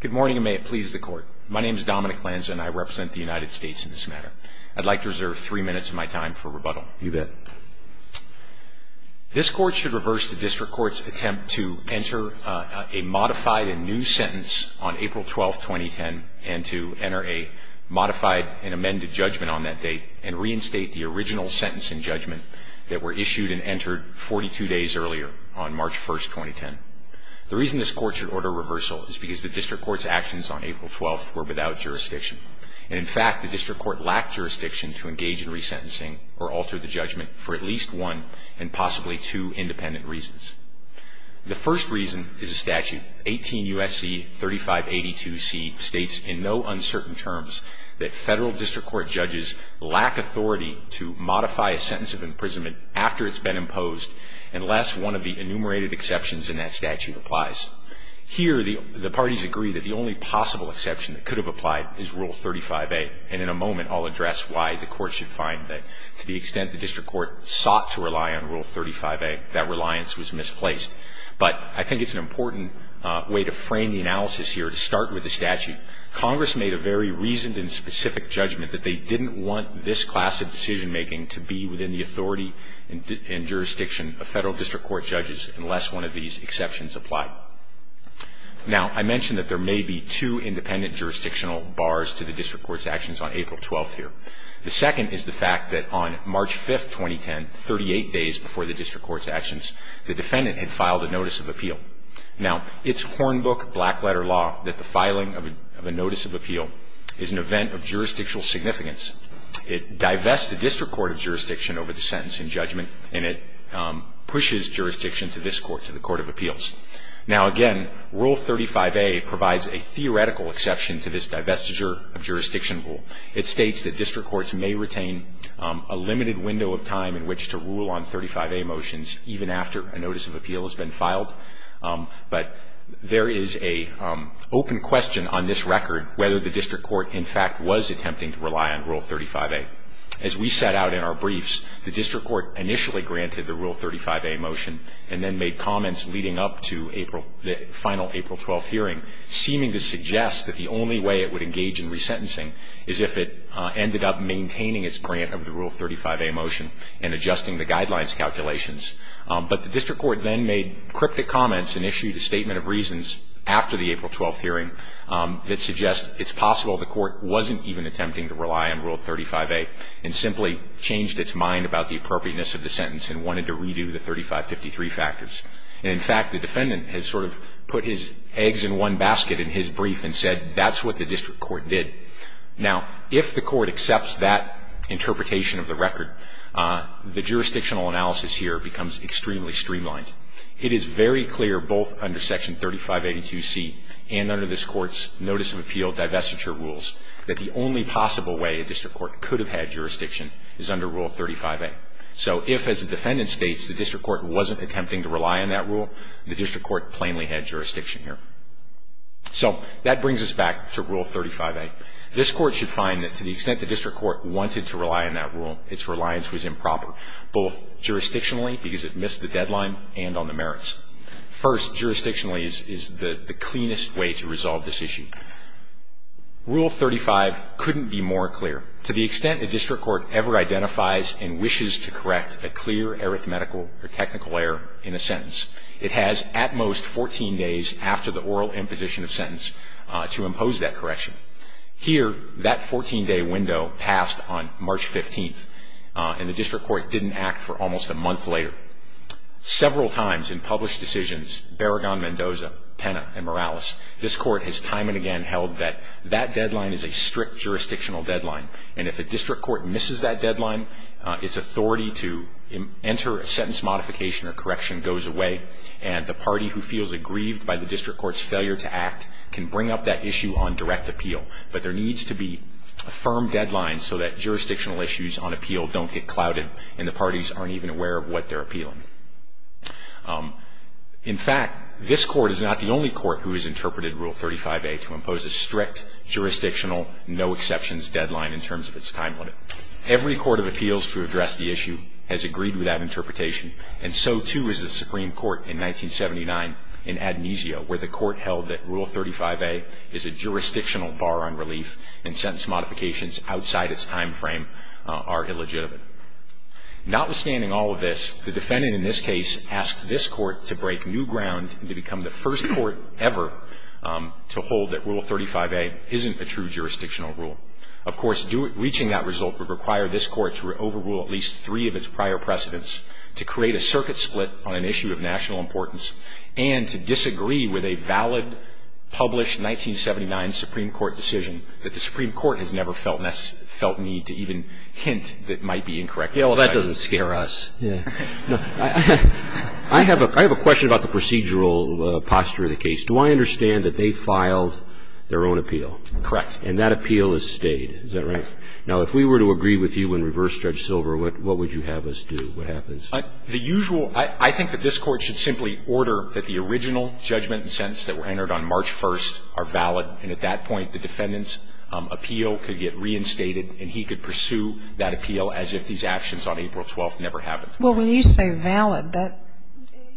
Good morning, and may it please the Court. My name is Dominic Lanza, and I represent the United States in this matter. I'd like to reserve three minutes of my time for rebuttal. You bet. This Court should reverse the District Court's attempt to enter a modified and new sentence on April 12, 2010, and to enter a modified and amended judgment on that date, and reinstate the original sentence and judgment that were issued and entered 42 days earlier, on March 1, 2010. The reason this Court should order reversal is because the District Court's actions on April 12 were without jurisdiction. And, in fact, the District Court lacked jurisdiction to engage in resentencing or alter the judgment for at least one and possibly two independent reasons. The first reason is a statute, 18 U.S.C. 3582C, states in no uncertain terms that Federal District Court judges lack authority to modify a sentence of imprisonment after it's been imposed, unless one of the enumerated exceptions in that statute applies. Here, the parties agree that the only possible exception that could have applied is Rule 35A. And in a moment, I'll address why the Court should find that to the extent the District Court sought to rely on Rule 35A, that reliance was misplaced. But I think it's an important way to frame the analysis here, to start with the statute. Congress made a very reasoned and specific judgment that they didn't want this class of decision-making to be within the authority and jurisdiction of Federal District Court judges unless one of these exceptions applied. Now, I mentioned that there may be two independent jurisdictional bars to the District Court's actions on April 12th here. The second is the fact that on March 5th, 2010, 38 days before the District Court's actions, the defendant had filed a notice of appeal. Now, it's Hornbook black-letter law that the filing of a notice of appeal is an event of jurisdictional significance. It divests the District Court of jurisdiction over the sentence in judgment, and it pushes jurisdiction to this Court, to the Court of Appeals. Now, again, Rule 35A provides a theoretical exception to this divestiture of jurisdiction rule. It states that District Courts may retain a limited window of time in which to rule on 35A motions, even after a notice of appeal has been filed. But there is an open question on this record whether the District Court, in fact, was attempting to rely on Rule 35A. As we set out in our briefs, the District Court initially granted the Rule 35A motion and then made comments leading up to the final April 12th hearing seeming to suggest that the only way it would engage in resentencing is if it ended up maintaining its grant of the Rule 35A motion and adjusting the guidelines calculations. But the District Court then made cryptic comments and issued a statement of reasons after the April 12th hearing that suggests it's possible the Court wasn't even attempting to rely on Rule 35A and simply changed its mind about the appropriateness of the sentence and wanted to redo the 3553 factors. And, in fact, the defendant has sort of put his eggs in one basket in his brief and said that's what the District Court did. Now, if the Court accepts that interpretation of the record, the jurisdictional analysis here becomes extremely streamlined. It is very clear both under Section 3582C and under this Court's notice of appeal divestiture rules that the only possible way a District Court could have had jurisdiction is under Rule 35A. So if, as the defendant states, the District Court wasn't attempting to rely on that rule, the District Court plainly had jurisdiction here. So that brings us back to Rule 35A. This Court should find that to the extent the District Court wanted to rely on that rule, its reliance was improper, both jurisdictionally because it missed the deadline and on the merits. First, jurisdictionally, is the cleanest way to resolve this issue. Rule 35 couldn't be more clear. To the extent a District Court ever identifies and wishes to correct a clear arithmetical or technical error in a sentence, it has at most 14 days after the oral imposition of sentence to impose that correction. Here, that 14-day window passed on March 15th, and the District Court didn't act for almost a month later. Several times in published decisions, Barragan, Mendoza, Penna, and Morales, this Court has time and again held that that deadline is a strict jurisdictional deadline, and if a District Court misses that deadline, its authority to enter a sentence modification or correction goes away, and the party who feels aggrieved by the District Court's failure to act can bring up that issue on direct appeal. But there needs to be firm deadlines so that jurisdictional issues on appeal don't get clouded and the parties aren't even aware of what they're appealing. In fact, this Court is not the only Court who has interpreted Rule 35A to impose a strict jurisdictional no-exceptions deadline in terms of its time limit. Every Court of Appeals to address the issue has agreed with that interpretation, and so, too, is the Supreme Court in 1979 in Amnesia, where the Court held that Rule 35A is a jurisdictional bar on relief and sentence modifications outside its timeframe are illegitimate. Notwithstanding all of this, the defendant in this case asked this Court to break new ground and to become the first Court ever to hold that Rule 35A isn't a true jurisdictional rule. Of course, reaching that result would require this Court to overrule at least three of its prior precedents, to create a circuit split on an issue of national importance, and to disagree with a valid, published 1979 Supreme Court decision that the Supreme I don't think there's any hint that might be incorrect. Roberts. Yeah, well, that doesn't scare us. No. I have a question about the procedural posture of the case. Do I understand that they filed their own appeal? Correct. And that appeal has stayed. Is that right? Right. Now, if we were to agree with you and reverse judge Silver, what would you have us do? What happens? The usual – I think that this Court should simply order that the original judgment and sentence that were entered on March 1st are valid. And at that point, the defendant's appeal could get reinstated, and he could pursue that appeal as if these actions on April 12th never happened. Well, when you say valid,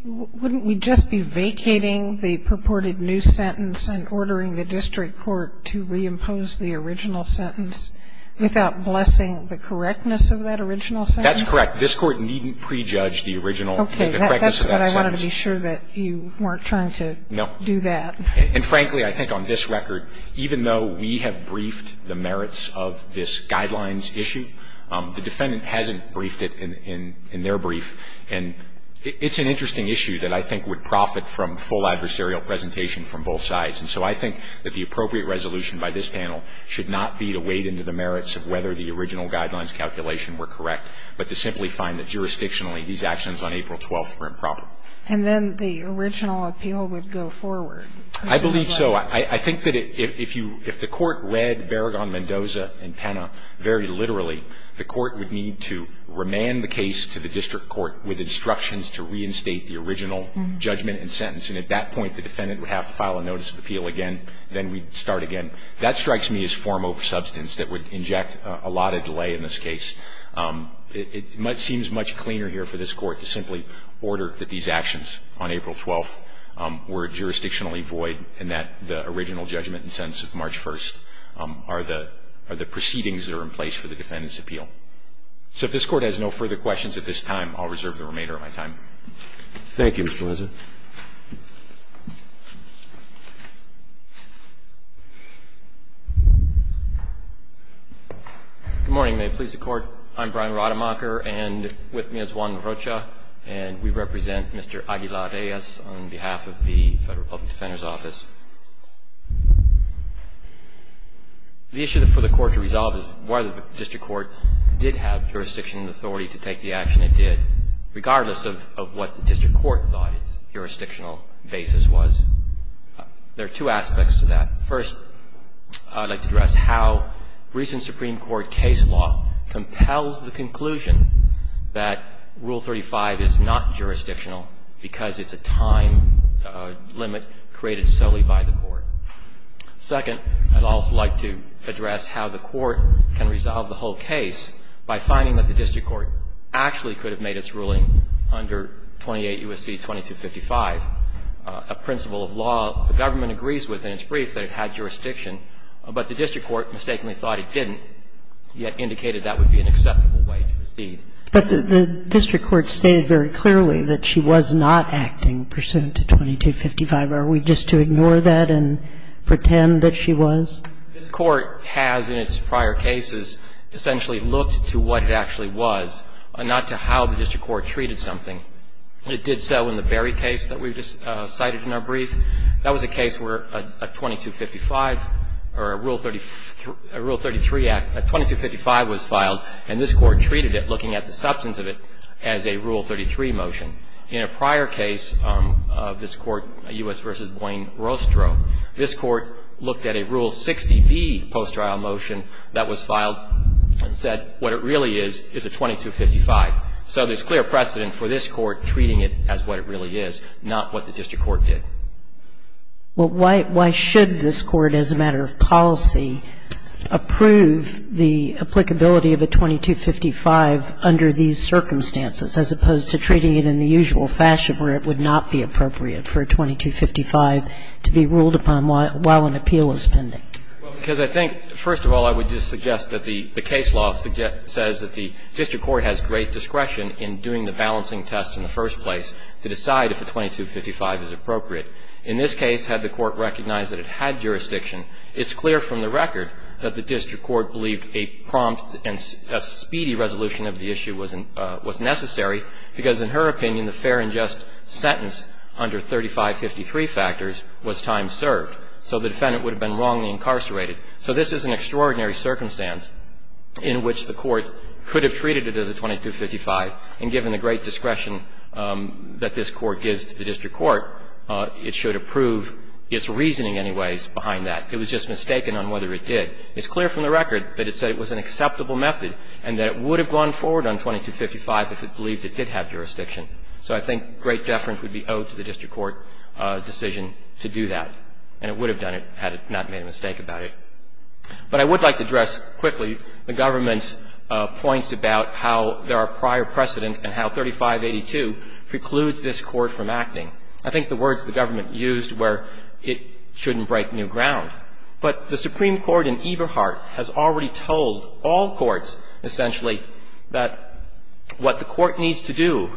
wouldn't we just be vacating the purported new sentence and ordering the district court to reimpose the original sentence without blessing the correctness of that original sentence? That's correct. This Court needn't prejudge the original – the correctness of that sentence. I just wanted to be sure that you weren't trying to do that. No. And frankly, I think on this record, even though we have briefed the merits of this guidelines issue, the defendant hasn't briefed it in their brief. And it's an interesting issue that I think would profit from full adversarial presentation from both sides. And so I think that the appropriate resolution by this panel should not be to wade into the merits of whether the original guidelines calculation were correct, but to simply find that jurisdictionally these actions on April 12th were improper. And then the original appeal would go forward. I believe so. I think that if you – if the Court read Berragon, Mendoza, and Penna very literally, the Court would need to remand the case to the district court with instructions to reinstate the original judgment and sentence. And at that point, the defendant would have to file a notice of appeal again. Then we'd start again. That strikes me as form over substance that would inject a lot of delay in this case. It seems much cleaner here for this Court to simply order that these actions on April 12th were jurisdictionally void, and that the original judgment and sentence of March 1st are the proceedings that are in place for the defendant's appeal. So if this Court has no further questions at this time, I'll reserve the remainder of my time. Roberts. Thank you, Mr. Lesser. Good morning. May it please the Court. I'm Brian Rademacher, and with me is Juan Rocha, and we represent Mr. Aguilar-Reyes on behalf of the Federal Public Defender's Office. The issue for the Court to resolve is whether the district court did have jurisdiction and authority to take the action it did, regardless of what the district court thought jurisdictional basis was. There are two aspects to that. First, I'd like to address how recent Supreme Court case law compels the conclusion that Rule 35 is not jurisdictional because it's a time limit created solely by the Court. Second, I'd also like to address how the Court can resolve the whole case by finding that the district court actually could have made its ruling under 28 U.S.C. 2255, a principle of law the government agrees with in its brief that it had jurisdiction, but the district court mistakenly thought it didn't, yet indicated that would be an acceptable way to proceed. But the district court stated very clearly that she was not acting pursuant to 2255. Are we just to ignore that and pretend that she was? This Court has in its prior cases essentially looked to what it actually was, not to how the district court treated something. It did so in the Berry case that we just cited in our brief. That was a case where a 2255 or a Rule 33 Act, a 2255 was filed, and this Court treated it, looking at the substance of it, as a Rule 33 motion. In a prior case of this Court, U.S. v. Duane Rostro, this Court looked at a Rule 60B post-trial motion that was filed and said what it really is, is a 2255. So there's clear precedent for this Court treating it as what it really is, not what the district court did. Well, why should this Court, as a matter of policy, approve the applicability of a 2255 under these circumstances, as opposed to treating it in the usual fashion where it would not be appropriate for a 2255 to be ruled upon while an appeal is pending? Well, because I think, first of all, I would just suggest that the case law says that the district court has great discretion in doing the balancing test in the first place to decide if a 2255 is appropriate. In this case, had the Court recognized that it had jurisdiction, it's clear from the record that the district court believed a prompt and a speedy resolution of the issue was necessary, because in her opinion, the fair and just sentence under 3553 factors was time served. So the defendant would have been wrongly incarcerated. So this is an extraordinary circumstance in which the Court could have treated it as a 2255, and given the great discretion that this Court gives to the district court, it should approve its reasoning anyways behind that. It was just mistaken on whether it did. It's clear from the record that it said it was an acceptable method and that it would have gone forward on 2255 if it believed it did have jurisdiction. So I think great deference would be owed to the district court decision to do that, and it would have done it had it not made a mistake about it. But I would like to address quickly the government's points about how there are prior precedents and how 3582 precludes this Court from acting. I think the words the government used were it shouldn't break new ground. But the Supreme Court in Eberhardt has already told all courts essentially that what the Court needs to do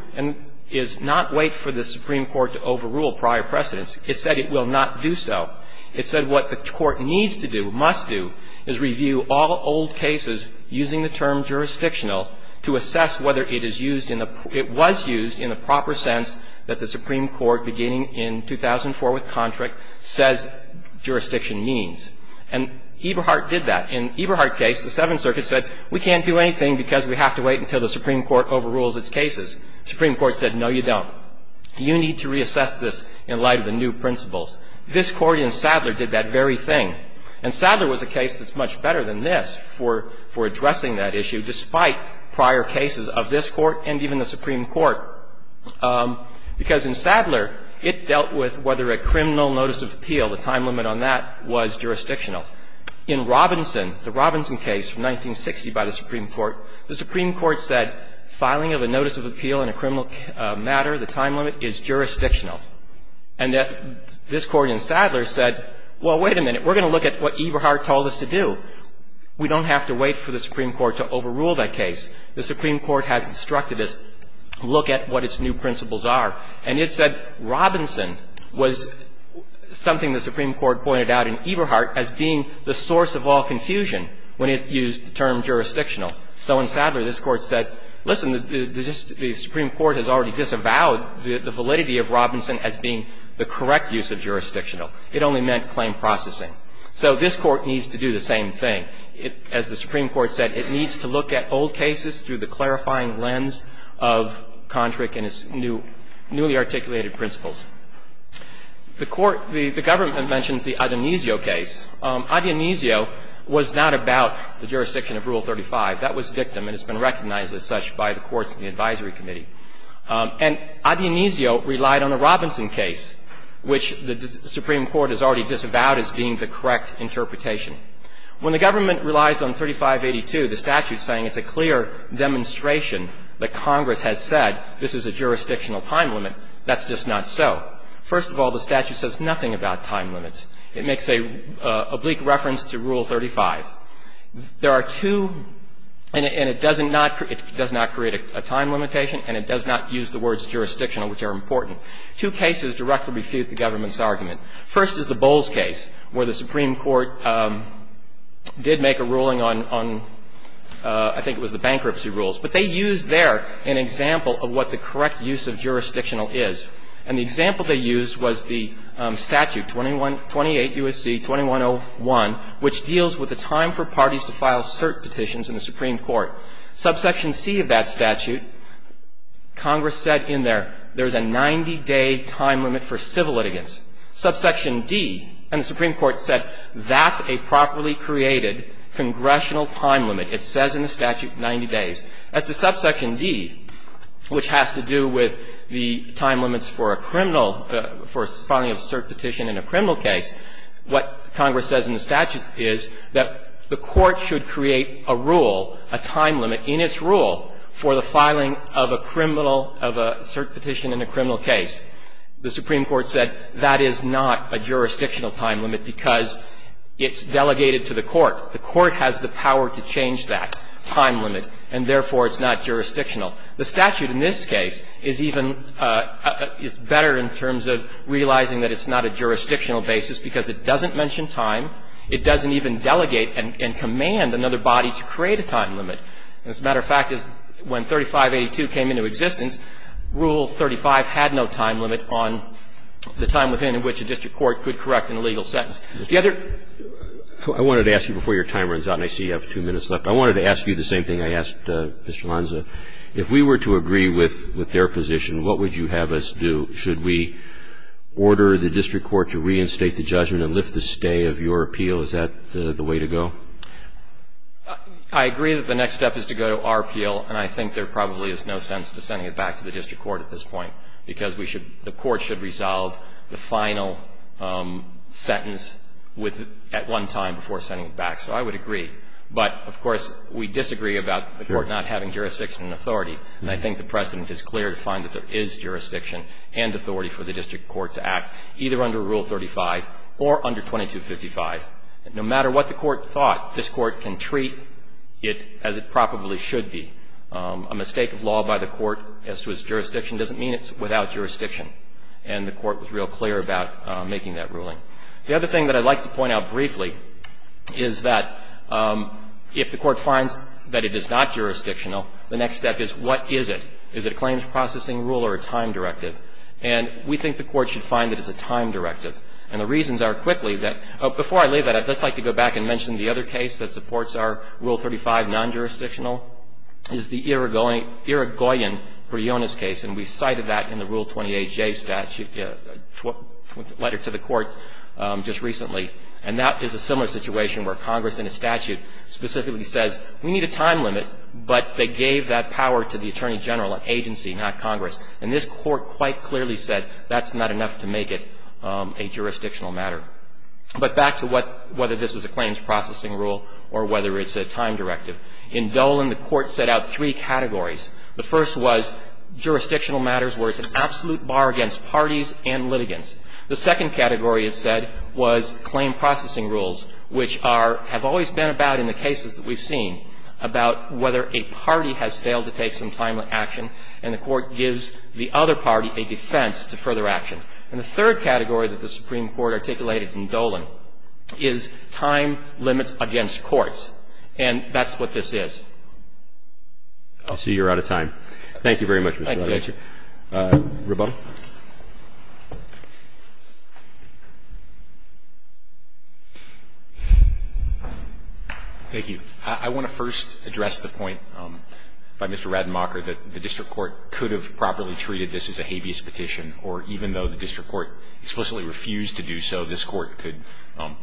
is not wait for the Supreme Court to overrule prior precedents. It said it will not do so. It said what the Court needs to do, must do, is review all old cases using the term jurisdictional to assess whether it is used in the – it was used in the proper sense that the Supreme Court, beginning in 2004 with Contract, says jurisdiction means. And Eberhardt did that. In Eberhardt's case, the Seventh Circuit said we can't do anything because we have to wait until the Supreme Court overrules its cases. The Supreme Court said no, you don't. You need to reassess this in light of the new principles. This Court in Sadler did that very thing. And Sadler was a case that's much better than this for addressing that issue, despite prior cases of this Court and even the Supreme Court. Because in Sadler, it dealt with whether a criminal notice of appeal, the time limit on that, was jurisdictional. In Robinson, the Robinson case from 1960 by the Supreme Court, the Supreme Court said filing of a notice of appeal in a criminal matter, the time limit, is jurisdictional. And this Court in Sadler said, well, wait a minute. We're going to look at what Eberhardt told us to do. We don't have to wait for the Supreme Court to overrule that case. The Supreme Court has instructed us to look at what its new principles are. And it said Robinson was something the Supreme Court pointed out in Eberhardt as being the source of all confusion when it used the term jurisdictional. So in Sadler, this Court said, listen, the Supreme Court has already disavowed the validity of Robinson as being the correct use of jurisdictional. It only meant claim processing. So this Court needs to do the same thing. As the Supreme Court said, it needs to look at old cases through the clarifying lens of Kontrick and its newly articulated principles. The Court, the government mentions the Adonisio case. Adonisio was not about the jurisdiction of Rule 35. That was dictum. And it's been recognized as such by the courts and the advisory committee. And Adonisio relied on the Robinson case, which the Supreme Court has already disavowed as being the correct interpretation. When the government relies on 3582, the statute is saying it's a clear demonstration that Congress has said this is a jurisdictional time limit. That's just not so. First of all, the statute says nothing about time limits. It makes an oblique reference to Rule 35. There are two, and it doesn't not create a time limitation, and it does not use the words jurisdictional, which are important. Two cases directly refute the government's argument. First is the Bowles case, where the Supreme Court did make a ruling on, I think it was the bankruptcy rules. But they used there an example of what the correct use of jurisdictional is. And the example they used was the statute, 28 U.S.C. 2101, which deals with the time for parties to file cert petitions in the Supreme Court. Subsection C of that statute, Congress said in there, there's a 90-day time limit for civil litigants. Subsection D, and the Supreme Court said that's a properly created congressional time limit. It says in the statute 90 days. As to subsection D, which has to do with the time limits for a criminal, for filing a cert petition in a criminal case, what Congress says in the statute is that the court should create a rule, a time limit in its rule for the filing of a criminal of a cert petition in a criminal case. The Supreme Court said that is not a jurisdictional time limit because it's delegated to the court. The court has the power to change that time limit. And therefore, it's not jurisdictional. The statute in this case is even better in terms of realizing that it's not a jurisdictional basis because it doesn't mention time, it doesn't even delegate and command another body to create a time limit. As a matter of fact, when 3582 came into existence, Rule 35 had no time limit on the time within which a district court could correct an illegal sentence. The other ---- Roberts, I wanted to ask you before your time runs out and I see you have two minutes left. I wanted to ask you the same thing I asked Mr. Lanza. If we were to agree with their position, what would you have us do? Should we order the district court to reinstate the judgment and lift the stay of your appeal? Is that the way to go? I agree that the next step is to go to our appeal, and I think there probably is no sense to sending it back to the district court at this point because we should ---- the court should resolve the final sentence at one time before sending it back. So I would agree. But, of course, we disagree about the court not having jurisdiction and authority. And I think the precedent is clear to find that there is jurisdiction and authority for the district court to act, either under Rule 35 or under 2255. No matter what the court thought, this Court can treat it as it probably should be. A mistake of law by the court as to its jurisdiction doesn't mean it's without jurisdiction. And the Court was real clear about making that ruling. The other thing that I'd like to point out briefly is that if the court finds that it is not jurisdictional, the next step is what is it? Is it a claims processing rule or a time directive? And we think the court should find that it's a time directive. And the reasons are, quickly, that ---- before I leave that, I'd just like to go back and mention the other case that supports our Rule 35 non-jurisdictional is the Irigoyen-Briones case. And we cited that in the Rule 28J statute, a letter to the court. Just recently. And that is a similar situation where Congress, in a statute, specifically says, we need a time limit, but they gave that power to the attorney general and agency, not Congress. And this court quite clearly said that's not enough to make it a jurisdictional matter. But back to what ---- whether this is a claims processing rule or whether it's a time directive. In Dolan, the court set out three categories. The first was jurisdictional matters where it's an absolute bar against parties and litigants. The second category, it said, was claim processing rules, which are ---- have always been about in the cases that we've seen about whether a party has failed to take some timely action, and the court gives the other party a defense to further action. And the third category that the Supreme Court articulated in Dolan is time limits against courts. And that's what this is. Roberts. Roberts. Thank you very much, Mr. Lewis. Thank you, Judge. Roboto. Thank you. I want to first address the point by Mr. Rademacher that the district court could have properly treated this as a habeas petition, or even though the district court explicitly refused to do so, this court could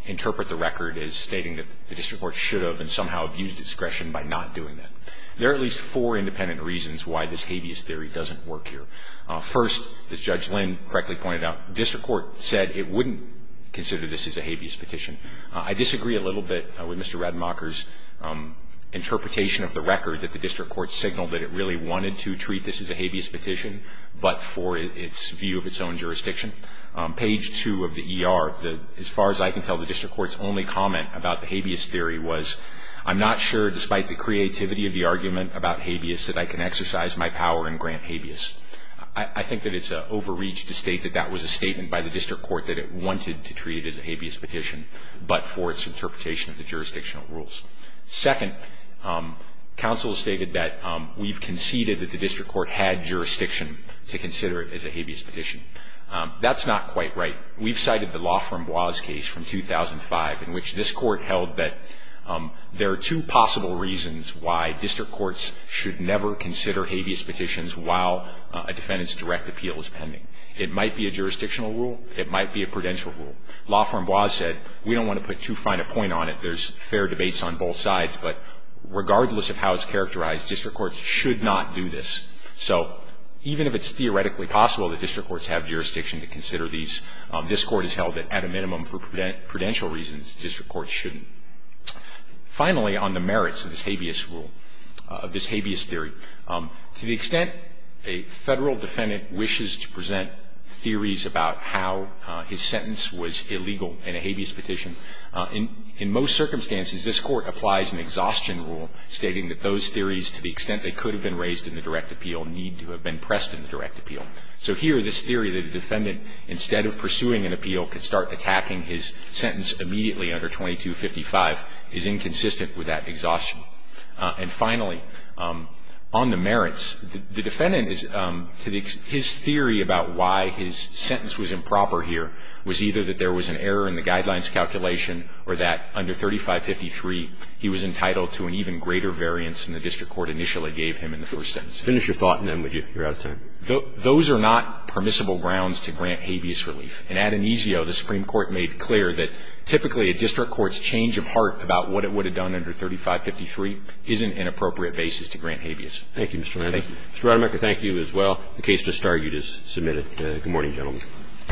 interpret the record as stating that the district court should have and somehow abused discretion by not doing that. There are at least four independent reasons why this habeas theory doesn't work here. First, as Judge Lynn correctly pointed out, the district court said it wouldn't consider this as a habeas petition. I disagree a little bit with Mr. Rademacher's interpretation of the record that the district court signaled that it really wanted to treat this as a habeas petition, but for its view of its own jurisdiction. Page 2 of the ER, as far as I can tell, the district court's only comment about the habeas theory was, I'm not sure, despite the creativity of the argument about habeas. I think that it's an overreach to state that that was a statement by the district court that it wanted to treat it as a habeas petition, but for its interpretation of the jurisdictional rules. Second, counsel stated that we've conceded that the district court had jurisdiction to consider it as a habeas petition. That's not quite right. We've cited the law firm Bois case from 2005 in which this court held that there are two possible reasons why district courts should never consider habeas petitions while a defendant's direct appeal is pending. It might be a jurisdictional rule. It might be a prudential rule. Law firm Bois said, we don't want to put too fine a point on it. There's fair debates on both sides, but regardless of how it's characterized, district courts should not do this. So even if it's theoretically possible that district courts have jurisdiction to consider these, this Court has held that at a minimum for prudential reasons, district courts shouldn't. Finally, on the merits of this habeas rule, of this habeas theory, to the extent that a Federal defendant wishes to present theories about how his sentence was illegal in a habeas petition, in most circumstances, this Court applies an exhaustion rule stating that those theories, to the extent they could have been raised in the direct appeal, need to have been pressed in the direct appeal. So here, this theory that a defendant, instead of pursuing an appeal, could start attacking his sentence immediately under 2255 is inconsistent with that exhaustion. And finally, on the merits, the defendant is to the extent his theory about why his sentence was improper here was either that there was an error in the guidelines calculation or that under 3553 he was entitled to an even greater variance than the district court initially gave him in the first sentence. Finish your thought, and then you're out of time. Those are not permissible grounds to grant habeas relief. In Adonisio, the Supreme Court made clear that typically a district court's change of heart about what it would have done under 3553 isn't an appropriate basis to grant habeas. Thank you, Mr. Rademacher. Thank you. Mr. Rademacher, thank you as well. The case to start is submitted. Good morning, gentlemen.